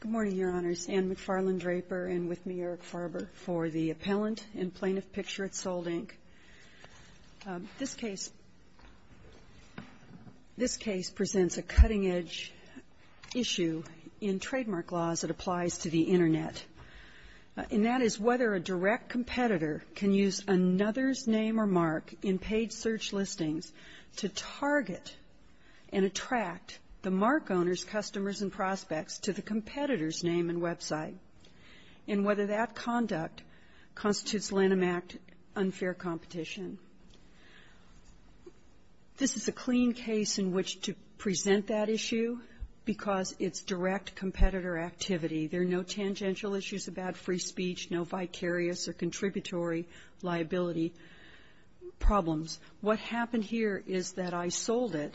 Good morning, Your Honors. Anne McFarland Draper, and with me, Eric Farber, for the Appellant and Plaintiff PICTURE IT SOLD, INC. This case presents a cutting-edge issue in trademark laws that applies to the Internet, and that is whether a direct competitor can use another's name or mark in paid search listings to target and attract the mark owner's customers and prospects to the competitor's name and website, and whether that conduct constitutes Lanham Act unfair competition. This is a clean case in which to present that issue because it's direct competitor activity. There are no tangential issues about free speech, no vicarious or contributory liability problems. What happened here is that I sold it,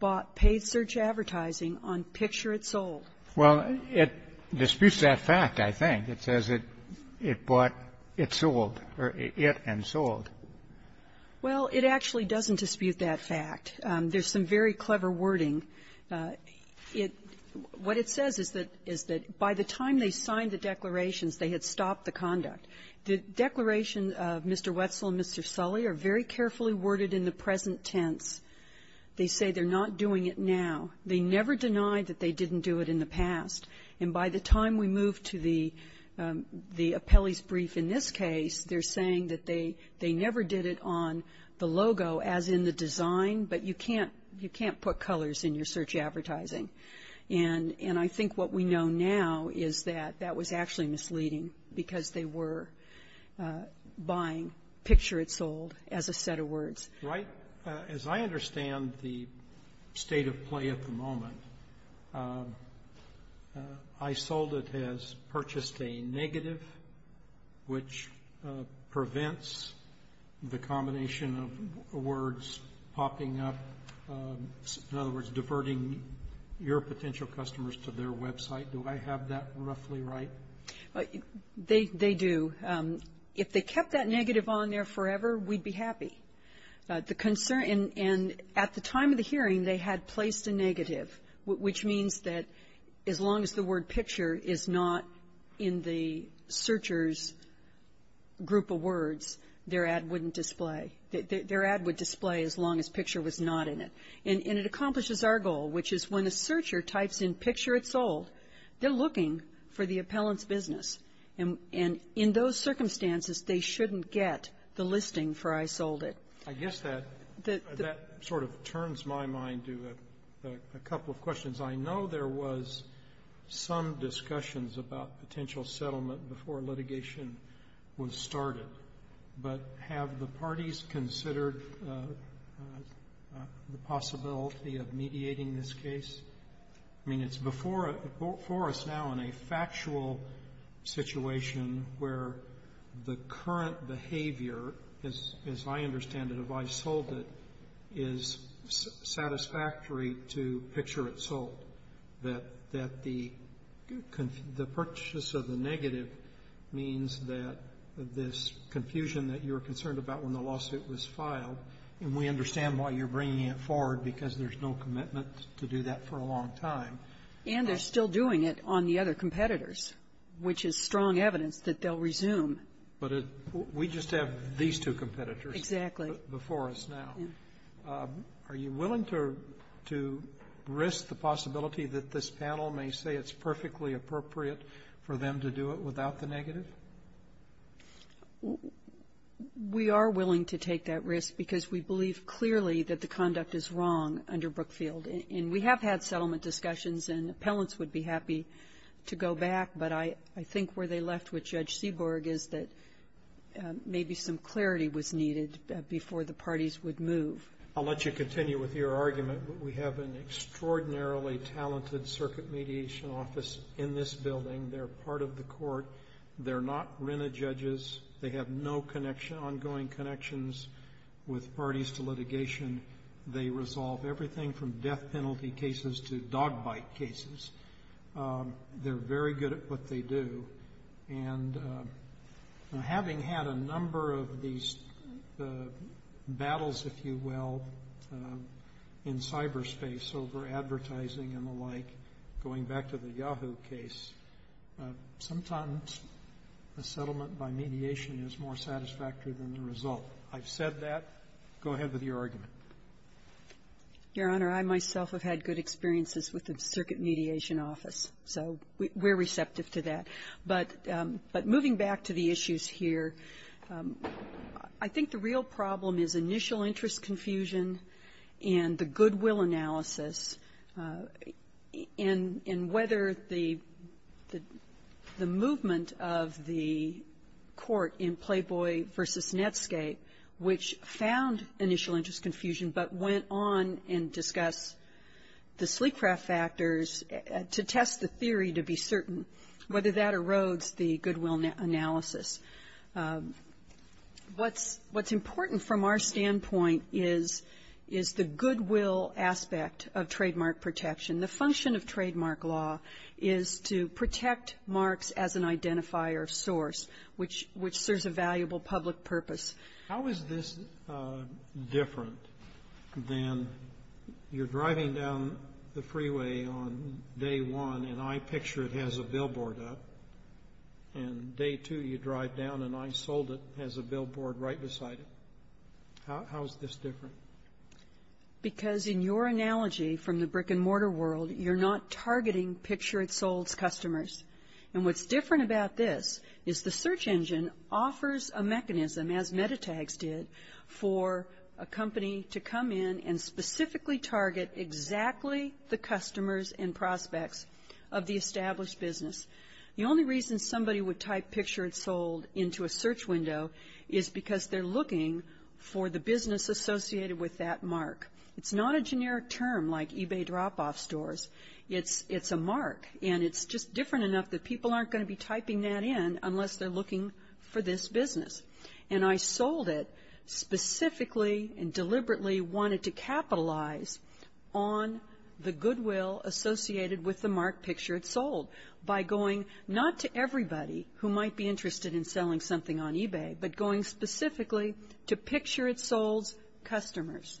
bought paid search advertising on PICTURE IT SOLD. Well, it disputes that fact, I think. It says it bought it sold, or it and sold. Well, it actually doesn't dispute that fact. There's some very clever wording. It what it says is that by the time they signed the declarations, they had stopped the conduct. The declaration of Mr. Wetzel and Mr. Sully are very carefully worded in the present tense. They say they're not doing it now. They never denied that they didn't do it in the past. And by the time we move to the appellee's brief in this case, they're saying that they never did it on the logo as in the design, but you can't put colors in your search advertising. And I think what we know now is that that was actually misleading because they were buying PICTURE IT SOLD as a set of words. Right. As I understand the state of play at the moment, I sold it as purchased a negative, which prevents the combination of words popping up, in other words, diverting your potential customers to their website. Do I have that roughly right? They do. If they kept that negative on there forever, we'd be happy. And at the time of the hearing, they had placed a negative, which means that as long as the word PICTURE is not in the searcher's group of words, their ad wouldn't display. Their ad would display as long as PICTURE was not in it. And it accomplishes our goal, which is when a searcher types in PICTURE IT SOLD, they're looking for the appellant's business. And in those circumstances, they shouldn't get the listing for I sold it. I guess that sort of turns my mind to a couple of questions. I know there was some discussions about potential settlement before litigation was started, but have the parties considered the possibility of mediating this case? I mean, it's before us now in a factual situation where the current behavior, as I understand it, of I sold it, is satisfactory to PICTURE IT SOLD. That the purchase of the negative means that this confusion that you're concerned about when the lawsuit was filed, and we understand why you're bringing it forward because there's no commitment to do that for a long time. And they're still doing it on the other competitors, which is strong evidence that they'll resume. But we just have these two competitors before us now. Exactly. Are you willing to risk the possibility that this panel may say it's perfectly appropriate for them to do it without the negative? We are willing to take that risk because we believe clearly that the conduct is wrong under Brookfield. And we have had settlement discussions, and appellants would be happy to go back. But I think where they left with Judge Seaborg is that maybe some clarity was needed before the parties would move. I'll let you continue with your argument. We have an extraordinarily talented circuit mediation office in this building. They're part of the court. They're not RINA judges. They have no ongoing connections with parties to litigation. They resolve everything from death penalty cases to dog bite cases. They're very good at what they do. And having had a number of these battles, if you will, in cyberspace over advertising and the like, going back to the Yahoo case, sometimes a settlement by mediation is more satisfactory than the result. I've said that. Go ahead with your argument. Your Honor, I myself have had good experiences with the circuit mediation office, so we're receptive to that. But moving back to the issues here, I think the real problem is initial interest confusion and the goodwill analysis in whether the movement of the court in Playboy v. Netscape, which found initial interest confusion but went on and discussed the sleek craft factors to test the theory to be certain, whether that erodes the goodwill analysis. What's important from our standpoint is the goodwill aspect of trademark protection. The function of trademark law is to protect marks as an identifier source, which serves a valuable public purpose. How is this different than you're driving down the freeway on day one and I picture it has a billboard up, and day two you drive down and I sold it, has a billboard right beside it? How is this different? Because in your analogy from the brick-and-mortar world, you're not targeting picture-it-sold customers. And what's different about this is the search engine offers a mechanism, as MetaTags did, for a company to come in and specifically target exactly the customers and prospects of the established business. The only reason somebody would type picture-it-sold into a search window is because they're looking for the business associated with that mark. It's not a generic term like eBay drop-off stores. It's a mark, and it's just different enough that people aren't going to be typing that in unless they're looking for this business. And I sold it specifically and deliberately wanted to capitalize on the goodwill associated with the mark picture-it-sold by going not to everybody who might be interested in selling something on eBay, but going specifically to picture-it-sold customers.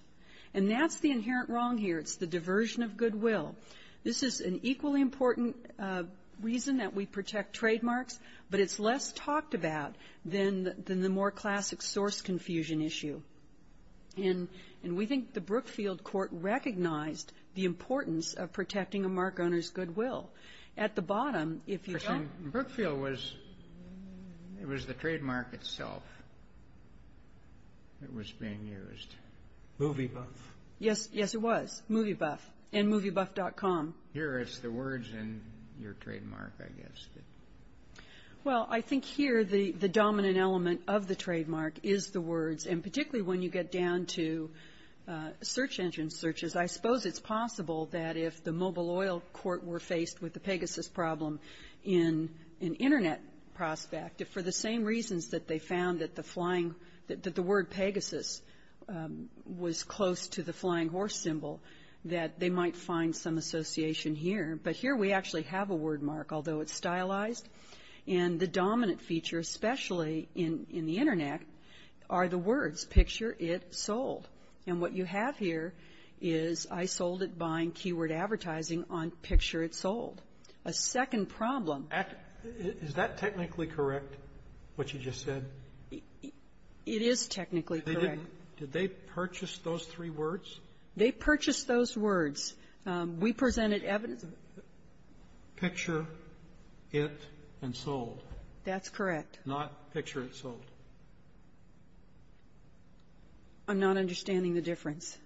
And that's the inherent wrong here. It's the diversion of goodwill. This is an equally important reason that we protect trademarks, but it's less talked about than the more classic source confusion issue. And we think the Brookfield Court recognized the importance of protecting a mark owner's goodwill. At the bottom, if you don't – Question. Brookfield was – it was the trademark itself that was being used. Movie buff. Yes, yes, it was. Movie buff. And moviebuff.com. Here it's the words and your trademark, I guess. Well, I think here the dominant element of the trademark is the words, and particularly when you get down to search engine searches. I suppose it's possible that if the Mobile Oil Court were faced with the Pegasus problem in an Internet prospect, if for the same reasons that they found that the flying – was close to the flying horse symbol, that they might find some association here. But here we actually have a word mark, although it's stylized. And the dominant feature, especially in the Internet, are the words, picture-it-sold. And what you have here is I sold it buying keyword advertising on picture-it-sold. A second problem – Is that technically correct, what you just said? It is technically correct. Did they purchase those three words? They purchased those words. We presented evidence of it. Picture-it-and-sold. That's correct. Not picture-it-sold. I'm not understanding the difference.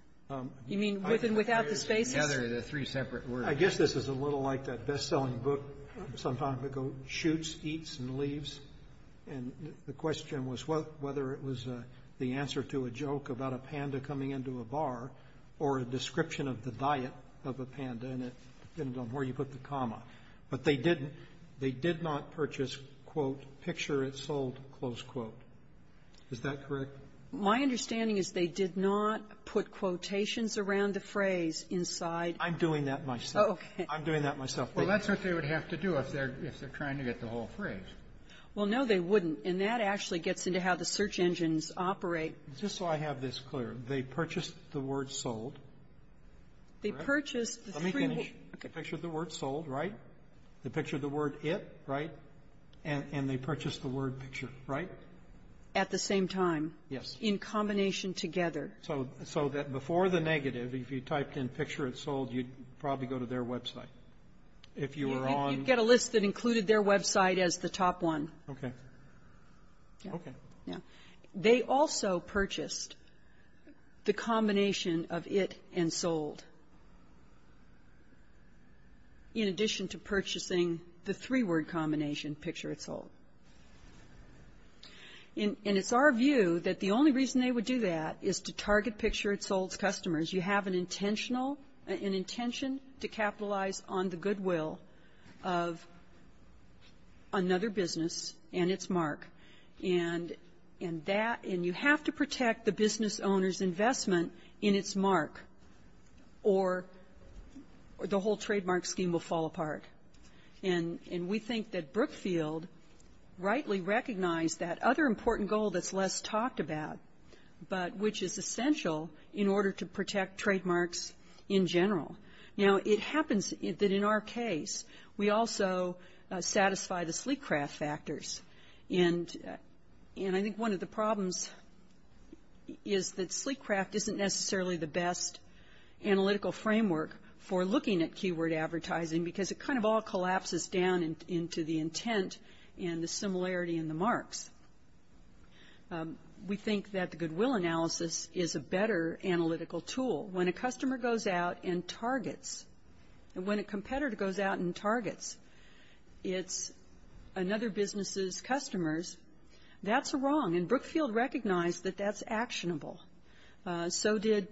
You mean with and without the spaces? The three separate words. I guess this is a little like that bestselling book some time ago, Shoots, Eats, and Leaves. And the question was whether it was the answer to a joke about a panda coming into a bar or a description of the diet of a panda, and it depended on where you put the comma. But they didn't. They did not purchase, quote, picture-it-sold, close quote. Is that correct? My understanding is they did not put quotations around the phrase inside. I'm doing that myself. Okay. I'm doing that myself. Well, that's what they would have to do if they're trying to get the whole phrase. Well, no, they wouldn't. And that actually gets into how the search engines operate. Just so I have this clear, they purchased the word sold, correct? They purchased the three words. Let me finish. They pictured the word sold, right? They pictured the word it, right? And they purchased the word picture, right? At the same time. Yes. In combination together. So that before the negative, if you typed in picture-it-sold, you'd probably go to their website. If you were on the ---- You'd get a list that included their website as the top one. Okay. Okay. Yeah. They also purchased the combination of it and sold, in addition to purchasing the three-word combination, picture-it-sold. And it's our view that the only reason they would do that is to target picture-it-sold's customers. You have an intention to capitalize on the goodwill of another business and its mark. And you have to protect the business owner's investment in its mark, or the whole trademark scheme will fall apart. And we think that Brookfield rightly recognized that other important goal that's less talked about, but which is essential in order to protect trademarks in general. Now, it happens that in our case, we also satisfy the sleek craft factors. And I think one of the problems is that sleek craft isn't necessarily the best analytical framework for looking at keyword advertising because it kind of all collapses down into the intent and the similarity in the marks. We think that the goodwill analysis is a better analytical tool. When a customer goes out and targets, and when a competitor goes out and targets another business's customers, that's wrong. And Brookfield recognized that that's actionable. So did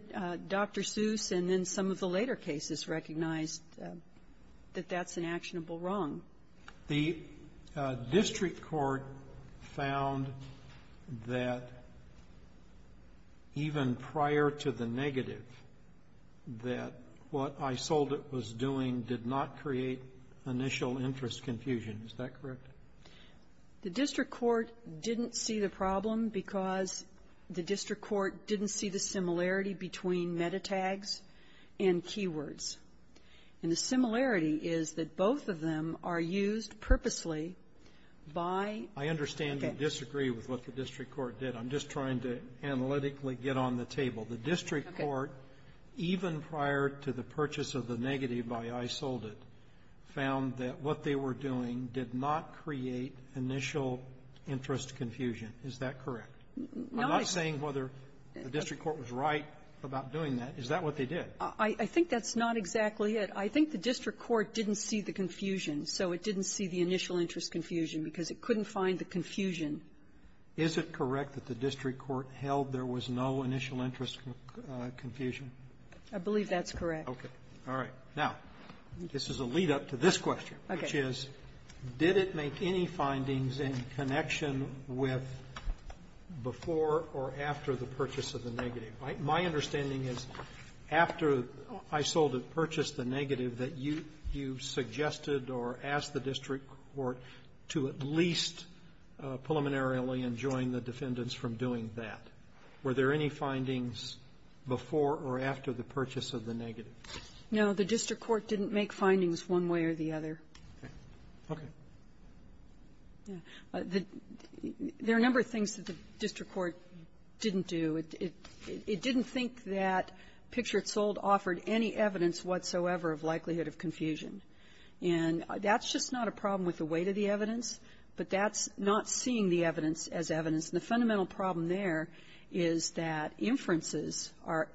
Dr. Seuss, and then some of the later cases recognized that that's an actionable wrong. The district court found that even prior to the negative, that what iSoldit was doing did not create initial interest confusion. Is that correct? The district court didn't see the problem because the district court didn't see the similarity between metatags and keywords. And the similarity is that both of them are used purposely by the market. I understand you disagree with what the district court did. I'm just trying to analytically get on the table. Okay. The district court, even prior to the purchase of the negative by iSoldit, found that what they were doing did not create initial interest confusion. Is that correct? I'm not saying whether the district court was right about doing that. Is that what they did? I think that's not exactly it. I think the district court didn't see the confusion, so it didn't see the initial interest confusion because it couldn't find the confusion. Is it correct that the district court held there was no initial interest confusion? I believe that's correct. All right. Now, this is a lead-up to this question, which is did it make any findings in connection with before or after the purchase of the negative? My understanding is after iSoldit purchased the negative that you suggested or asked the district court to at least preliminarily enjoin the defendants from doing that. Were there any findings before or after the purchase of the negative? No. The district court didn't make findings one way or the other. Okay. There are a number of things that the district court didn't do. It didn't think that picture-it-sold offered any evidence whatsoever of likelihood of confusion. And that's just not a problem with the weight of the evidence, but that's not seeing the evidence as evidence. And the fundamental problem there is that inferences are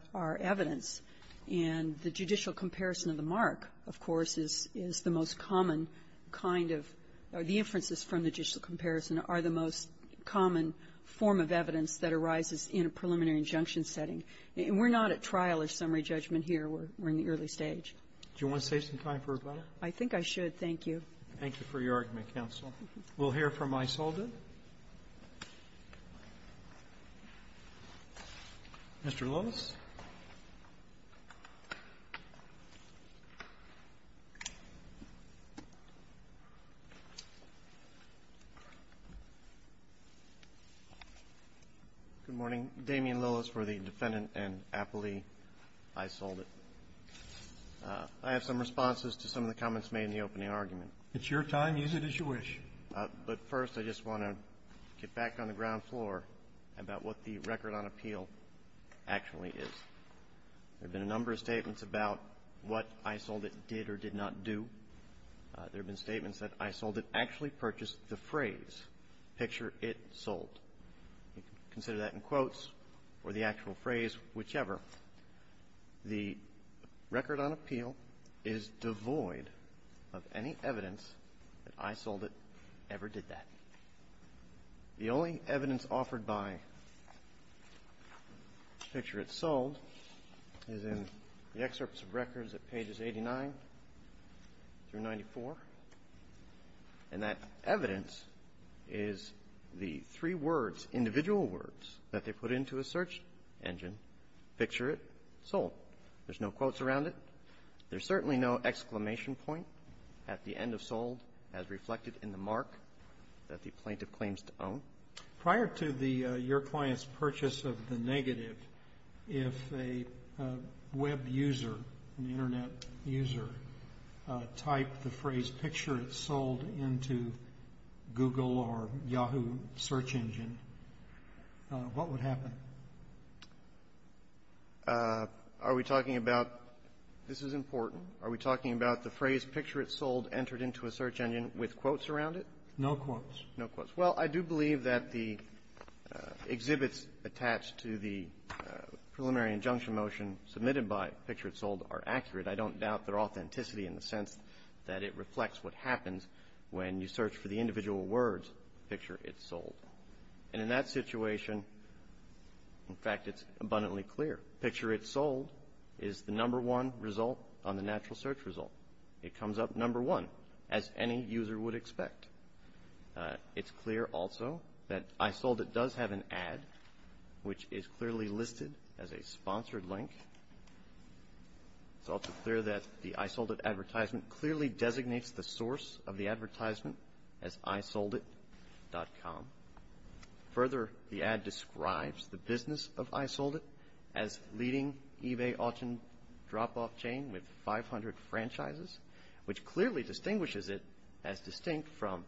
evidence, and the judicial comparison of the mark, of course, is the most common kind of the inferences from the judicial comparison are the most common form of evidence that arises in a preliminary injunction setting. And we're not at trial or summary judgment here. We're in the early stage. Do you want to save some time for rebuttal? Thank you. Thank you for your argument, counsel. We'll hear from Aisolda. Mr. Lillis. Good morning. Damien Lillis for the Defendant and appellee Aisolda. I have some responses to some of the comments made in the opening argument. It's your time. Use it as you wish. But first, I just want to get back on the ground floor about what the record on appeal actually is. There have been a number of statements about what Aisolda did or did not do. There have been statements that Aisolda actually purchased the phrase, picture-it-sold. You can consider that in quotes or the actual phrase, whichever. The record on appeal is devoid of any evidence that Aisolda ever did that. The only evidence offered by picture-it-sold is in the excerpts of records at pages 89 through 94. And that evidence is the three words, individual words, that they put into a search engine, picture-it-sold. There's no quotes around it. There's certainly no exclamation point at the end of sold as reflected in the mark that the plaintiff claims to own. Prior to your client's purchase of the negative, if a web user, an internet user, typed the phrase picture-it-sold into Google or Yahoo search engine, what would happen? Are we talking about this is important? Are we talking about the phrase picture-it-sold entered into a search engine with quotes around it? No quotes. No quotes. Well, I do believe that the exhibits attached to the preliminary injunction motion submitted by picture-it-sold are accurate. I don't doubt their authenticity in the sense that it reflects what happens when you search for the individual words picture-it-sold. And in that situation, in fact, it's abundantly clear. Picture-it-sold is the number one result on the natural search result. It comes up number one as any user would expect. It's clear also that Aisolda does have an ad which is clearly listed as a sponsored link. It's also clear that the Aisolda advertisement clearly designates the source of the advertisement as aisolda.com. Further, the ad describes the business of Aisolda as leading eBay auction drop-off chain with 500 franchises, which clearly distinguishes it as distinct from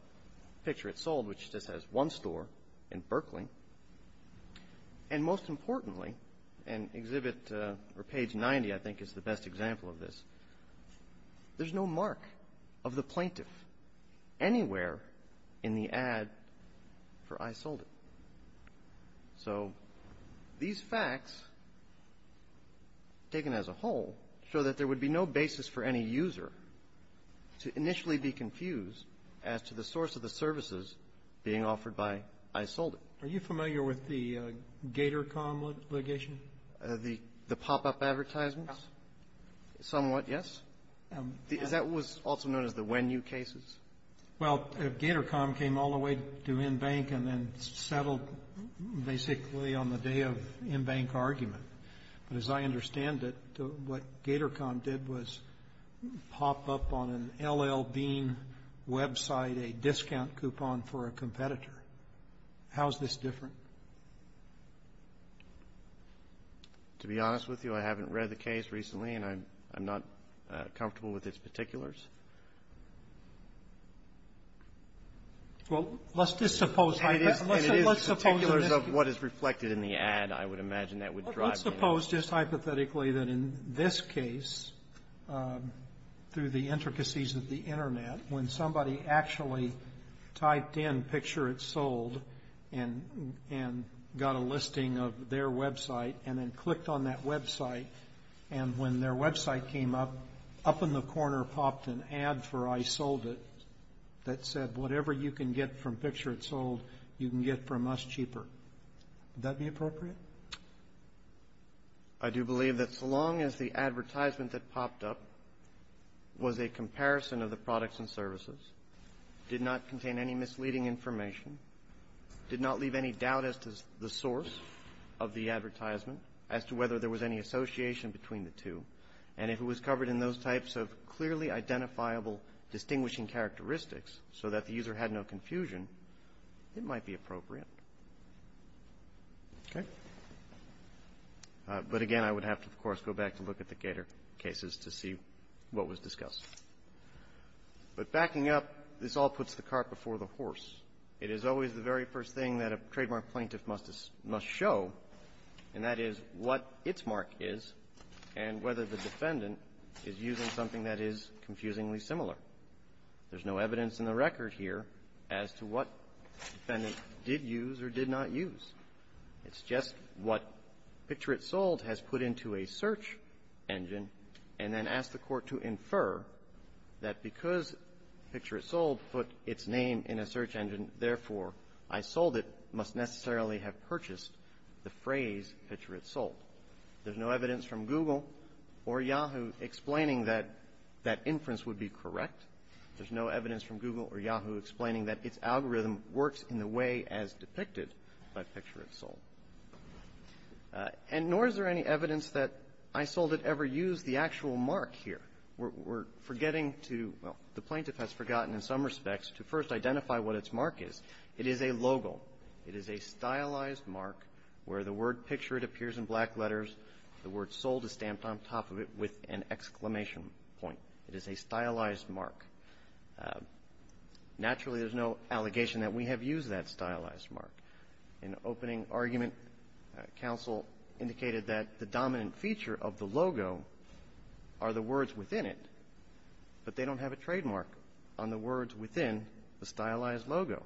picture-it-sold, which just has one store in Berkeley. And most importantly, and exhibit or page 90, I think, is the best example of this, there's no mark of the plaintiff anywhere in the ad for Aisolda. So these facts, taken as a whole, show that there would be no basis for any user to initially be confused as to the source of the services being offered by Aisolda. Are you familiar with the GatorCom litigation? The pop-up advertisements? Somewhat, yes. That was also known as the when-you cases? Well, GatorCom came all the way to InBank and then settled basically on the day of InBank argument. But as I understand it, what GatorCom did was pop up on an L.L. Bean website a discount coupon for a competitor. How is this different? To be honest with you, I haven't read the case recently and I'm not comfortable with its particulars. Well, let's just suppose. And it is particulars of what is reflected in the ad, I would imagine that would drive Let's suppose, just hypothetically, that in this case, through the intricacies of the and got a listing of their website and then clicked on that website, and when their website came up, up in the corner popped an ad for Aisolda that said, whatever you can get from Picture It Sold, you can get from us cheaper. Would that be appropriate? I do believe that so long as the advertisement that popped up was a comparison of the products and services, did not contain any misleading information, did not leave any doubt as to the source of the advertisement, as to whether there was any association between the two, and if it was covered in those types of clearly identifiable distinguishing characteristics so that the user had no confusion, it might be appropriate. But again, I would have to, of course, go back to look at the Gator cases to see what was discussed. But backing up, this all puts the cart before the horse. It is always the very first thing that a trademark plaintiff must show, and that is what its mark is and whether the defendant is using something that is confusingly similar. There's no evidence in the record here as to what defendant did use or did not use. It's just what Picture It Sold has put into a search engine and then asked the Court to infer that because Picture It Sold put its name in a search engine, therefore, I sold it must necessarily have purchased the phrase Picture It Sold. There's no evidence from Google or Yahoo explaining that that inference would be correct. There's no evidence from Google or Yahoo explaining that its algorithm works in the way as depicted by Picture It Sold. And nor is there any evidence that I sold it ever used the actual mark here. We're forgetting to – well, the plaintiff has forgotten in some respects to first identify what its mark is. It is a logo. It is a stylized mark where the word Picture It appears in black letters. The word Sold is stamped on top of it with an exclamation point. It is a stylized mark. Naturally, there's no allegation that we have used that stylized mark. In the opening argument, counsel indicated that the dominant feature of the logo are the words within it, but they don't have a trademark on the words within the stylized logo.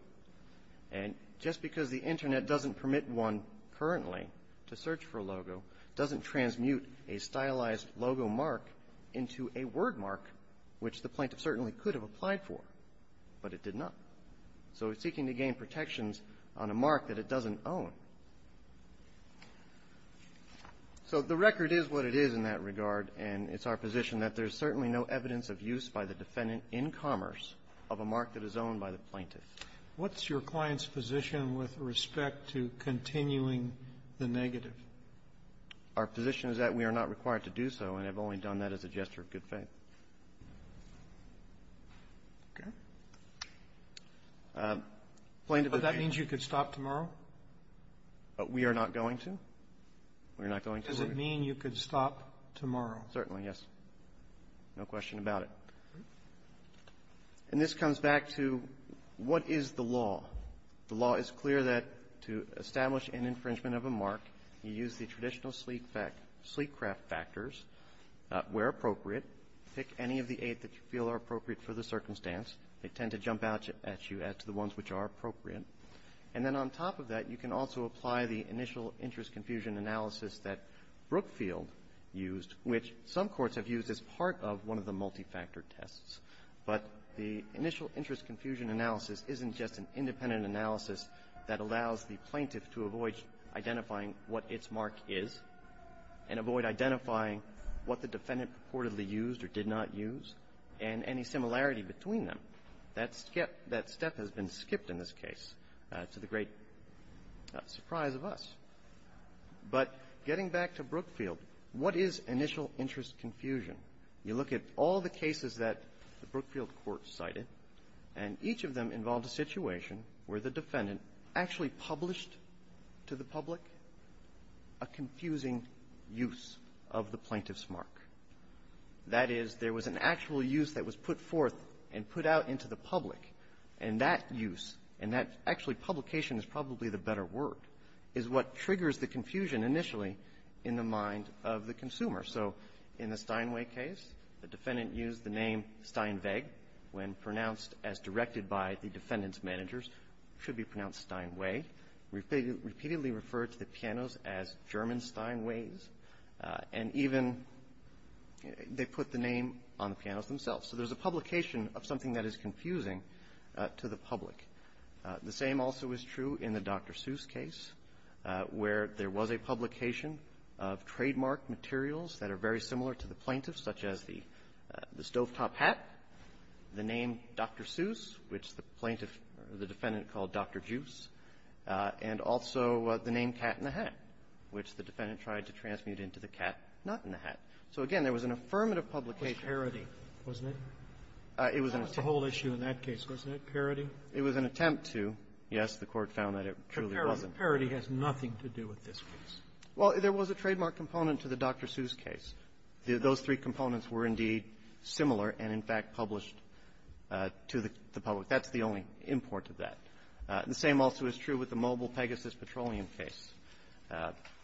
And just because the Internet doesn't permit one currently to search for a logo doesn't transmute a stylized logo mark into a word mark, which the plaintiff certainly could have applied for, but it did not. So it's seeking to gain protections on a mark that it doesn't own. So the record is what it is in that regard, and it's our position that there's certainly no evidence of use by the defendant in commerce of a mark that is owned by the plaintiff. What's your client's position with respect to continuing the negative? Our position is that we are not required to do so, and I've only done that as a gesture of good faith. Okay. Plaintiff, if you can go ahead. But that means you could stop tomorrow? We are not going to. We're not going to. Does it mean you could stop tomorrow? Certainly, yes. No question about it. And this comes back to what is the law. The law is clear that to establish an infringement of a mark, you use the traditional Sleekcraft factors where appropriate. Pick any of the eight that you feel are appropriate for the circumstance. They tend to jump out at you as to the ones which are appropriate. And then on top of that, you can also apply the initial interest confusion analysis that Brookfield used, which some courts have used as part of one of the multi-factor tests. But the initial interest confusion analysis isn't just an independent analysis that allows the plaintiff to avoid identifying what its mark is. And avoid identifying what the defendant purportedly used or did not use. And any similarity between them. That step has been skipped in this case, to the great surprise of us. But getting back to Brookfield, what is initial interest confusion? You look at all the cases that the Brookfield court cited. And each of them involved a situation where the defendant actually published to the public a confusing use of the plaintiff's mark. That is, there was an actual use that was put forth and put out into the public. And that use, and that actually publication is probably the better word, is what triggers the confusion initially in the mind of the consumer. So in the Steinway case, the defendant used the name Steinweg when pronounced as directed by the defendant's managers. It should be pronounced Steinway. Repeatedly referred to the pianos as German Steinways. And even they put the name on the pianos themselves. So there's a publication of something that is confusing to the public. The same also is true in the Dr. Seuss case, where there was a publication of trademark materials that are very similar to the plaintiff's, such as the stovetop hat, the name Dr. Seuss, which the plaintiff or the defendant called Dr. Juice, and also the name Cat in the Hat, which the defendant tried to transmute into the cat not in the hat. So again, there was an affirmative publication. Sotomayor, it was a whole issue in that case, wasn't it, parity? It was an attempt to, yes, the Court found that it truly wasn't. But parity has nothing to do with this case. Well, there was a trademark component to the Dr. Seuss case. Those three components were indeed similar and, in fact, published to the public. That's the only import of that. The same also is true with the Mobile Pegasus Petroleum case.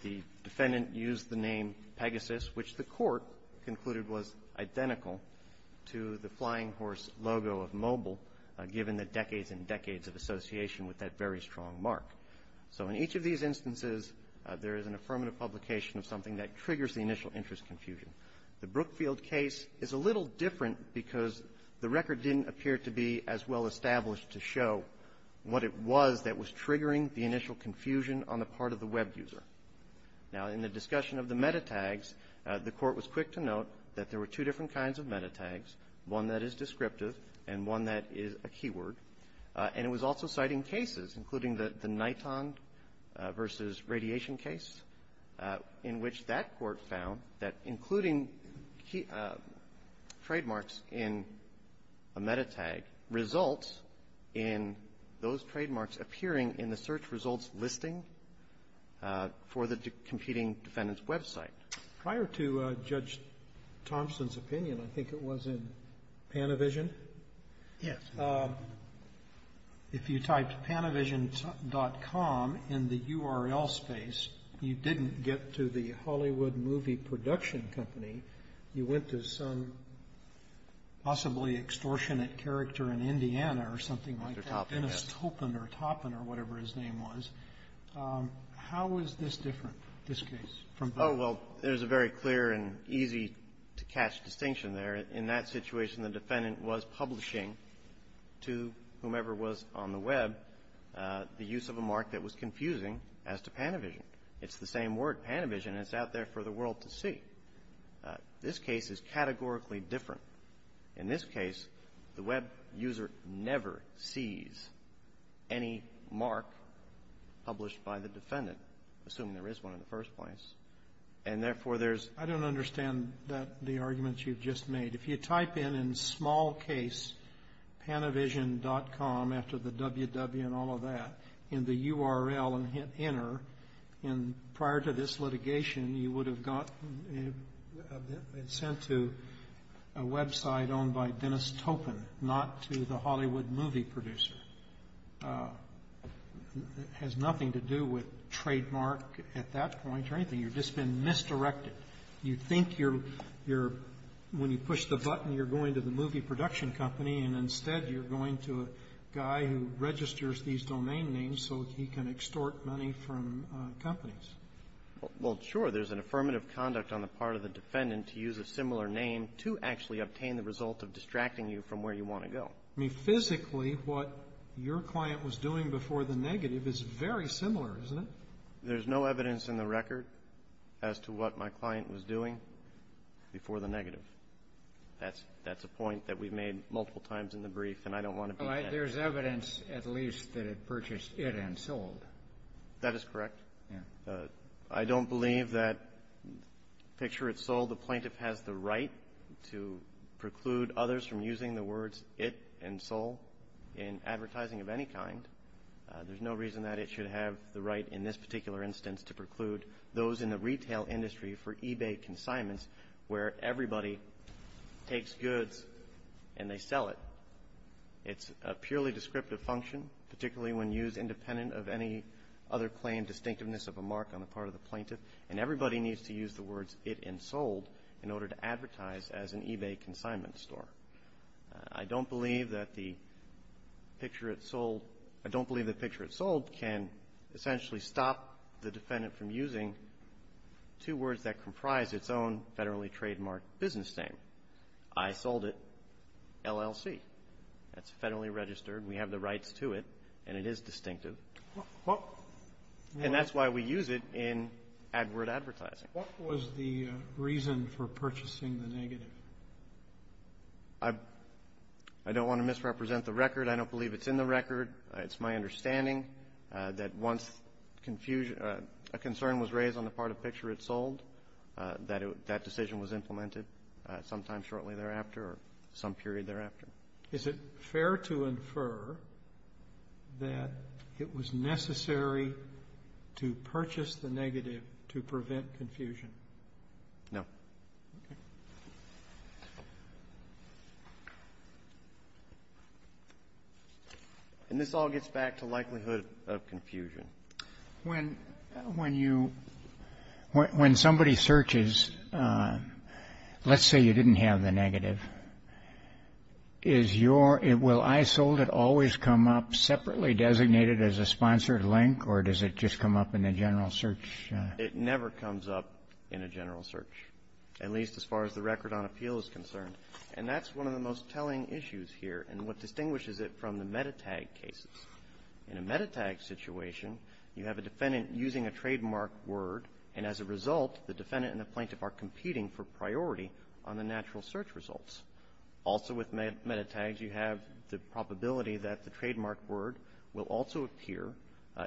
The defendant used the name Pegasus, which the Court concluded was identical to the flying horse logo of Mobile, given the decades and decades of association with that very strong mark. So in each of these instances, there is an affirmative publication of something that triggers the initial interest confusion. The Brookfield case is a little different because the record didn't appear to be as well-established to show what it was that was triggering the initial confusion on the part of the web user. Now, in the discussion of the meta-tags, the Court was quick to note that there were two different kinds of meta-tags, one that is descriptive and one that is a keyword. And it was also citing cases, including the Niton v. Radiation case, in which that Court found that including trademarks in a meta-tag results in those trademarks appearing in the search results listing for the competing defendant's website. Prior to Judge Thompson's opinion, I think it was in Panavision? Yes. If you typed panavision.com in the URL space, you didn't get to the Hollywood Movie Production Company. You went to some possibly extortionate character in Indiana or something like that. Mr. Toppin, yes. Dennis Toppin or Toppin or whatever his name was. How is this different, this case, from both? Oh, well, there's a very clear and easy-to-catch distinction there. In that situation, the defendant was publishing to whomever was on the web the use of a mark that was confusing as to Panavision. It's the same word, Panavision. And it's out there for the world to see. This case is categorically different. In this case, the web user never sees any mark published by the defendant, assuming there is one in the first place. And therefore, there's? I don't understand the arguments you've just made. If you type in, in small case, panavision.com after the www and all of that in the URL and hit enter, and prior to this litigation, you would have gotten it sent to a website owned by Dennis Toppin, not to the Hollywood movie producer. It has nothing to do with trademark at that point or anything. You've just been misdirected. You think you're, when you push the button, you're going to the movie production company, and instead you're going to a guy who registers these domain names so he can extort money from companies. Well, sure. There's an affirmative conduct on the part of the defendant to use a similar name to actually obtain the result of distracting you from where you want to go. I mean, physically, what your client was doing before the negative is very similar, isn't it? There's no evidence in the record as to what my client was doing before the negative. That's a point that we've made multiple times in the brief, and I don't want to beat that. There's evidence, at least, that it purchased it and sold. That is correct. I don't believe that, picture it sold, the plaintiff has the right to preclude others from using the words it and sold in advertising of any kind. There's no reason that it should have the right in this particular instance to preclude those in the retail industry for eBay consignments where everybody takes goods and they sell it. It's a purely descriptive function, particularly when used independent of any other claim distinctiveness of a mark on the part of the plaintiff, and everybody needs to use the words it and sold in order to advertise as an eBay consignment store. I don't believe that the picture it sold, I don't believe the picture it sold can essentially stop the defendant from using two words that comprise its own federally trademarked business name. I sold it LLC. That's federally registered. We have the rights to it, and it is distinctive, and that's why we use it in AdWord advertising. What was the reason for purchasing the negative? I don't want to misrepresent the record. I don't believe it's in the record. It's my understanding that once a concern was raised on the part of picture it sold, that decision was implemented sometime shortly thereafter or some period thereafter. Is it fair to infer that it was necessary to purchase the negative to prevent confusion? No. Okay. When somebody searches, let's say you didn't have the negative, will I sold it always come up separately designated as a sponsored link, or does it just come up in a general search? It never comes up in a general search, at least as far as the record on appeal is concerned, and that's one of the most telling issues here, and what distinguishes it from the MetaTag cases. In a MetaTag situation, you have a defendant using a trademark word, and as a result, the defendant and the plaintiff are competing for priority on the natural search results. Also with MetaTags, you have the probability that the trademark word will also appear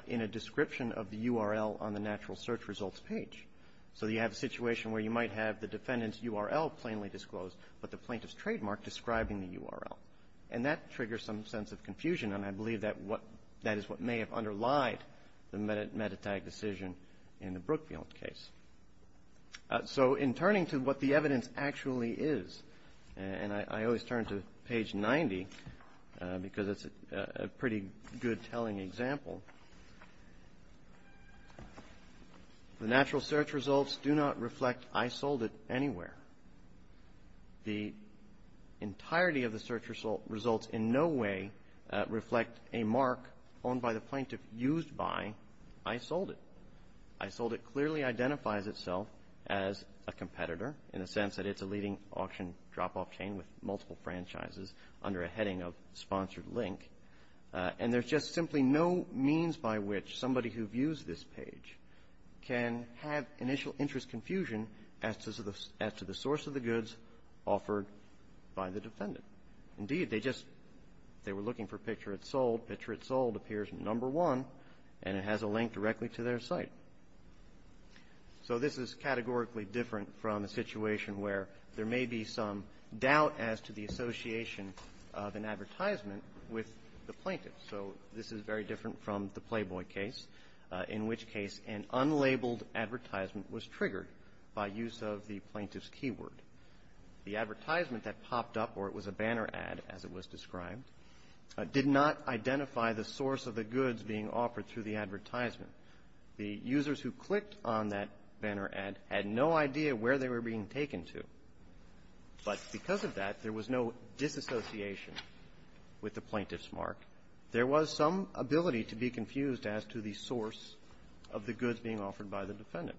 in a description of the URL on the natural search results page. So you have a situation where you might have the defendant's URL plainly disclosed, but the plaintiff's trademark describing the URL, and that triggers some sense of confusion, and I believe that is what may have underlied the MetaTag decision in the Brookfield case. So in turning to what the evidence actually is, and I always turn to page 90 because it's a pretty good telling example. The natural search results do not reflect I sold it anywhere. The entirety of the search results in no way reflect a mark owned by the plaintiff, used by, I sold it. I sold it clearly identifies itself as a competitor in the sense that it's a leading auction drop-off chain with multiple franchises under a heading of sponsored link, and there's just simply no means by which somebody who views this page can have initial interest confusion as to the source of the goods offered by the defendant. Indeed, they just, they were looking for picture it sold, picture it sold appears number one, and it has a link directly to their site. So this is categorically different from a situation where there may be some doubt as to the association of an advertisement with the plaintiff. So this is very different from the Playboy case, in which case an unlabeled advertisement was triggered by use of the plaintiff's keyword. The advertisement that popped up, or it was a banner ad as it was described, did not identify the source of the goods being offered through the advertisement. The users who clicked on that banner ad had no idea where they were being taken to, but because of that there was no disassociation with the plaintiff's mark. There was some ability to be confused as to the source of the goods being offered by the defendant,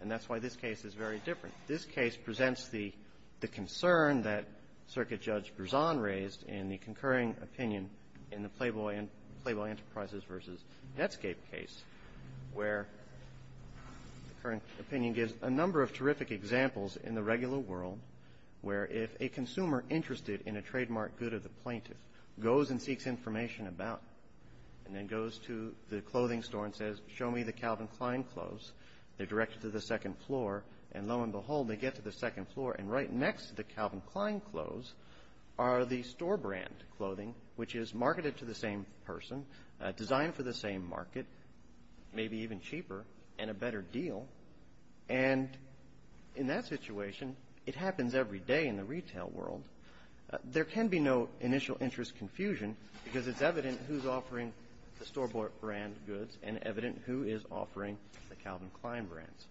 and that's why this case is very different. This case presents the concern that Circuit Judge Berzon raised in the concurring opinion in the Playboy Enterprises versus Netscape case, where the current opinion gives a number of terrific examples in the regular world where if a consumer interested in a trademark good of the plaintiff goes and seeks information about, and then goes to the clothing store and says, show me the Calvin Klein clothes, they're directed to the second floor, and lo and behold, they get to the second floor, and right next to the Calvin Klein clothes are the store brand clothing, which is marketed to the same person, designed for the same market, maybe even cheaper, and a better deal. And in that situation, it happens every day in the retail world. There can be no initial interest confusion because it's evident who's offering the store brand goods and evident who is offering the Calvin Klein brands.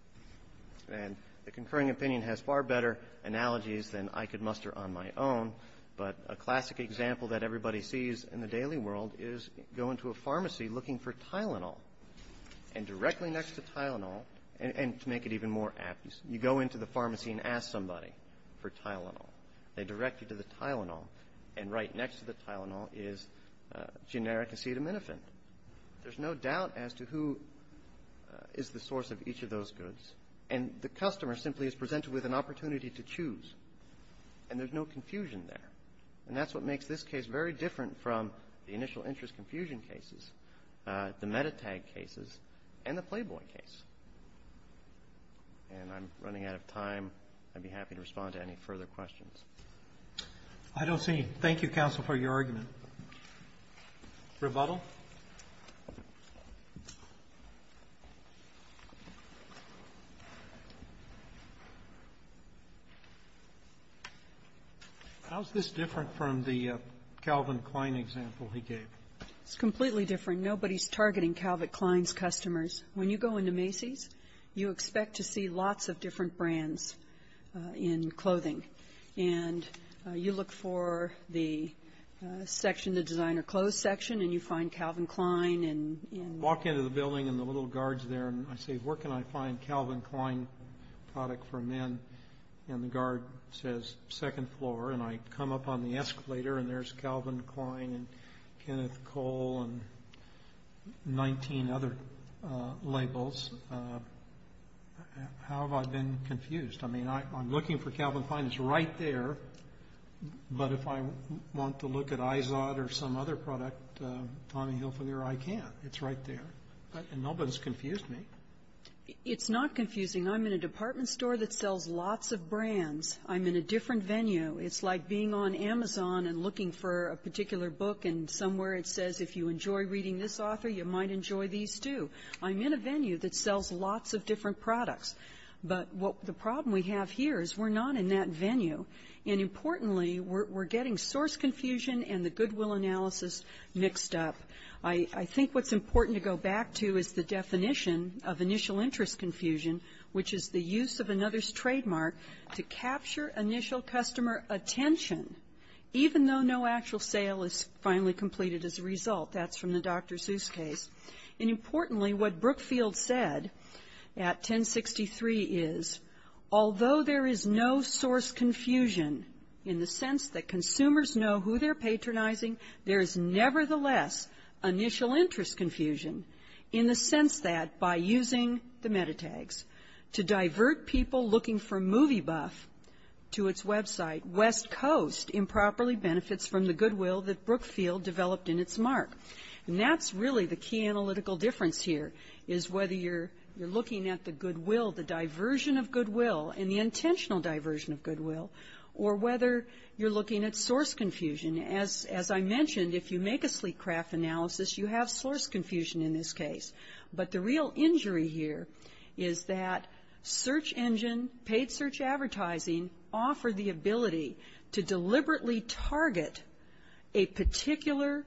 And the concurring opinion has far better analogies than I could muster on my own, but a classic example that everybody sees in the daily world is go into a pharmacy looking for Tylenol, and directly next to Tylenol, and to make it even more apt, you go into the pharmacy and ask somebody for Tylenol. They direct you to the Tylenol, and right next to the Tylenol is generic acetaminophen. There's no doubt as to who is the source of each of those goods, and the customer simply is presented with an opportunity to choose, and there's no confusion there. And that's what makes this case very different from the initial interest confusion cases, the meta tag cases, and the playboy case. And I'm running out of time. I'd be happy to respond to any further questions. I don't see any. Thank you, counsel, for your argument. Rebuttal? How's this different from the Calvin Klein example he gave? It's completely different. Nobody's targeting Calvin Klein's customers. When you go into Macy's, you expect to see lots of different brands in clothing, and you look for the section, the designer clothes section, and you find Calvin Klein in... Walk into the building, and the little guard's there, and I say, where can I find Calvin Klein product for men? And the guard says, second floor, and I come up on the escalator, and there's Calvin Klein, and Kenneth Cole, and 19 other labels. How have I been confused? I mean, I'm looking for Calvin Klein. It's right there, but if I want to look at IZOD or some other product, Tommy Hilfiger, I can't. It's right there, and nobody's confused me. It's not confusing. I'm in a department store that sells lots of brands. I'm in a different venue. It's like being on Amazon and looking for a particular book, and somewhere it says, if you enjoy reading this author, you might enjoy these, too. I'm in a venue that sells lots of different products, but the problem we have here is we're not in that venue, and importantly, we're getting source confusion and the goodwill analysis mixed up. I think what's important to go back to is the definition of initial interest confusion, which is the use of another's trademark to capture initial customer attention, even though no actual sale is finally completed as a result. That's from the Dr. Seuss case, and importantly, what Brookfield said at 1063 is, although there is no source confusion in the sense that consumers know who they're patronizing, there is nevertheless initial interest confusion in the sense that by using the metatags to divert people looking for movie buff to its website, West Coast improperly benefits from the goodwill that Brookfield developed in its mark. And that's really the key analytical difference here is whether you're looking at the goodwill, the diversion of goodwill, and the intentional diversion of goodwill, or whether you're looking at source confusion. As I mentioned, if you make a sleek craft analysis, you have source confusion in this case. But the real injury here is that search engine, paid search advertising, offer the ability to deliberately target a particular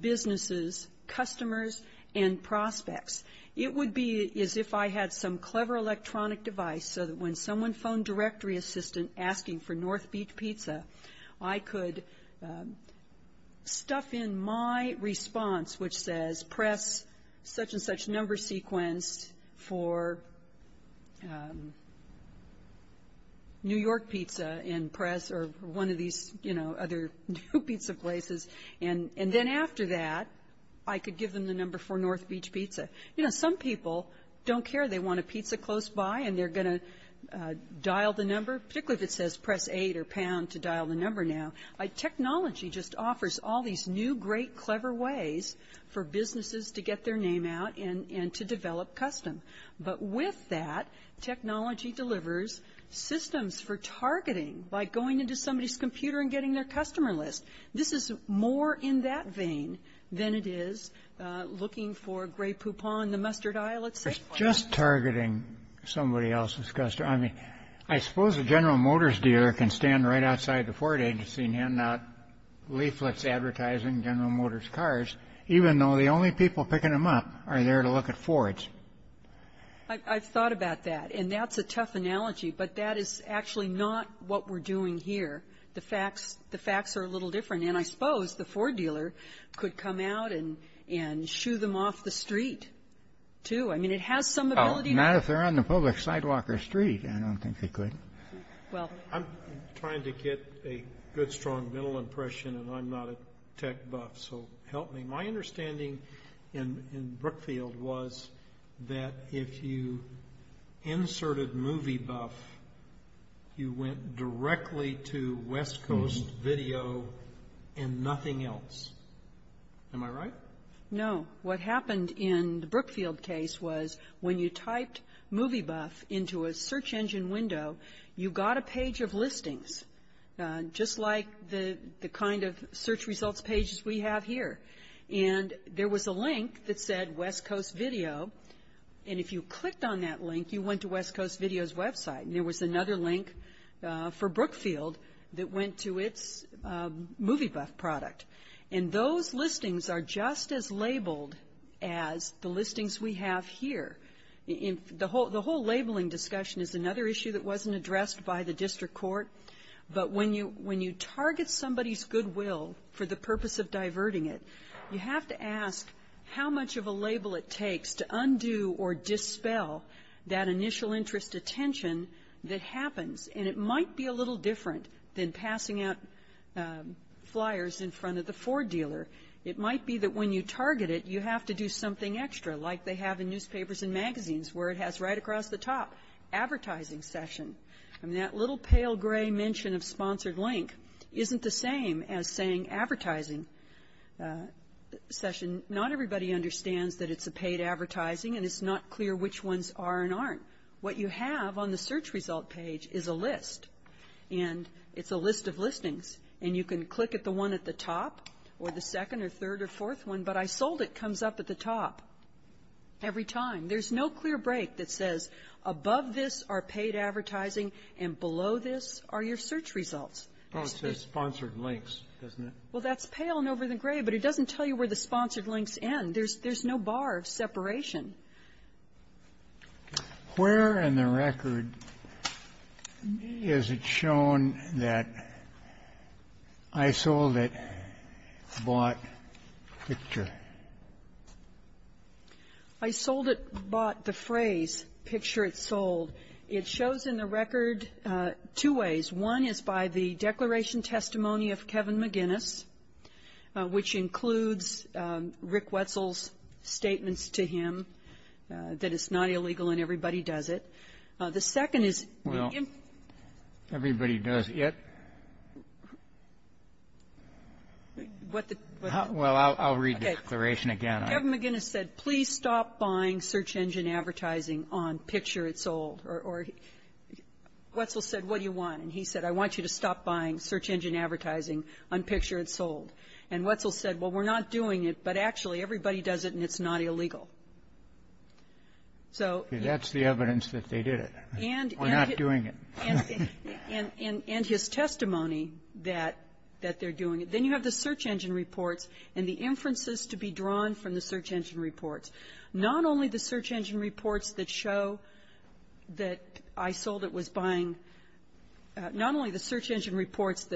business's customers and prospects. It would be as if I had some clever electronic device so that when someone phoned directory assistant asking for North Beach Pizza, I could stuff in my response, which says press such and such number sequence for New York Pizza and press, or one of these, you know, other new pizza places. And then after that, I could give them the number for North Beach Pizza. You know, some people don't care. They want a pizza close by, and they're going to dial the number, particularly if it says press 8 or pound to dial the number now. Technology just offers all these new, great, clever ways for businesses to get their name out and to develop custom. But with that, technology delivers systems for targeting by going into somebody's computer and getting their customer list. This is more in that vein than it is looking for a gray Poupon, the mustard aisle, let's say. Just targeting somebody else's customer. I mean, I suppose a General Motors dealer can stand right outside the Ford agency and hand out leaflets advertising General Motors cars, even though the only people picking them up are there to look at Fords. I've thought about that, and that's a tough analogy, but that is actually not what we're doing here. The facts, the facts are a little different. And I suppose the Ford dealer could come out and and shoo them off the street, too. I mean, it has some ability. Not if they're on the public sidewalk or street. I don't think they could. Well, I'm trying to get a good, strong mental impression, and I'm not a tech buff, so help me. My understanding in Brookfield was that if you inserted movie buff, you went directly to West Coast video and nothing else. Am I right? No, what happened in the Brookfield case was when you typed movie buff into a search engine window, you got a page of listings, just like the kind of search results pages we have here. And there was a link that said West Coast video. And if you clicked on that link, you went to West Coast video's website. And there was another link for Brookfield that went to its movie buff product. And those listings are just as labeled as the listings we have here. The whole labeling discussion is another issue that wasn't addressed by the district court. But when you target somebody's goodwill for the purpose of diverting it, you have to ask how much of a label it takes to undo or dispel that initial interest attention that happens. And it might be a little different than passing out flyers in front of the Ford dealer. It might be that when you target it, you have to do something extra, like they have in newspapers and magazines where it has right across the top, advertising session. And that little pale gray mention of sponsored link isn't the same as saying advertising session. Not everybody understands that it's a paid advertising, and it's not clear which ones are and aren't. What you have on the search result page is a list. And it's a list of listings. And you can click at the one at the top or the second or third or fourth one. But I sold it comes up at the top every time. There's no clear break that says above this are paid advertising and below this are your search results. Oh, it says sponsored links, doesn't it? Well, that's pale and over the gray, but it doesn't tell you where the sponsored links end. There's no bar of separation. Where in the record is it shown that I sold it, bought, picture? I sold it, bought, the phrase, picture it sold. It shows in the record two ways. One is by the declaration testimony of Kevin McGinnis, which includes Rick Wetzel's statements to him that it's not illegal and everybody does it. The second is the given --- Well, everybody does it. What the -- Well, I'll read the declaration again. Kevin McGinnis said, please stop buying search engine advertising on picture it sold. Or Wetzel said, what do you want? And he said, I want you to stop buying search engine advertising on picture it sold. And Wetzel said, well, we're not doing it, but actually everybody does it and it's not illegal. So he -- That's the evidence that they did it. We're not doing it. And his testimony that they're doing it. Then you have the search engine reports and the inferences to be drawn from the search engine reports. Not only the search engine reports that show that I sold it was buying, not only the search engine reports,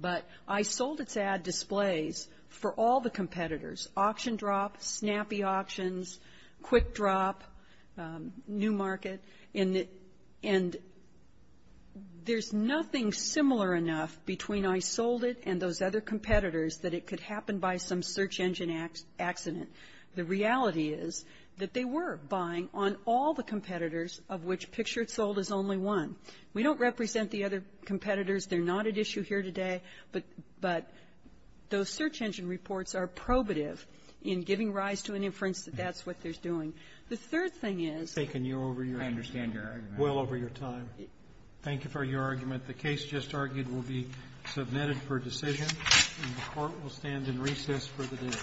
but I sold its ad displays for all the competitors. Auction Drop, Snappy Auctions, Quick Drop, New Market. And there's nothing similar enough between I sold it and those other competitors that it could happen by some search engine accident. The reality is that they were buying on all the competitors of which picture it sold is only one. We don't represent the other competitors. They're not at issue here today, but those search engine reports are probative in giving rise to an inference that that's what they're doing. The third thing is they can go over your argument well over your time. Thank you for your argument. The case just argued will be submitted for decision, and the Court will stand in recess for the day.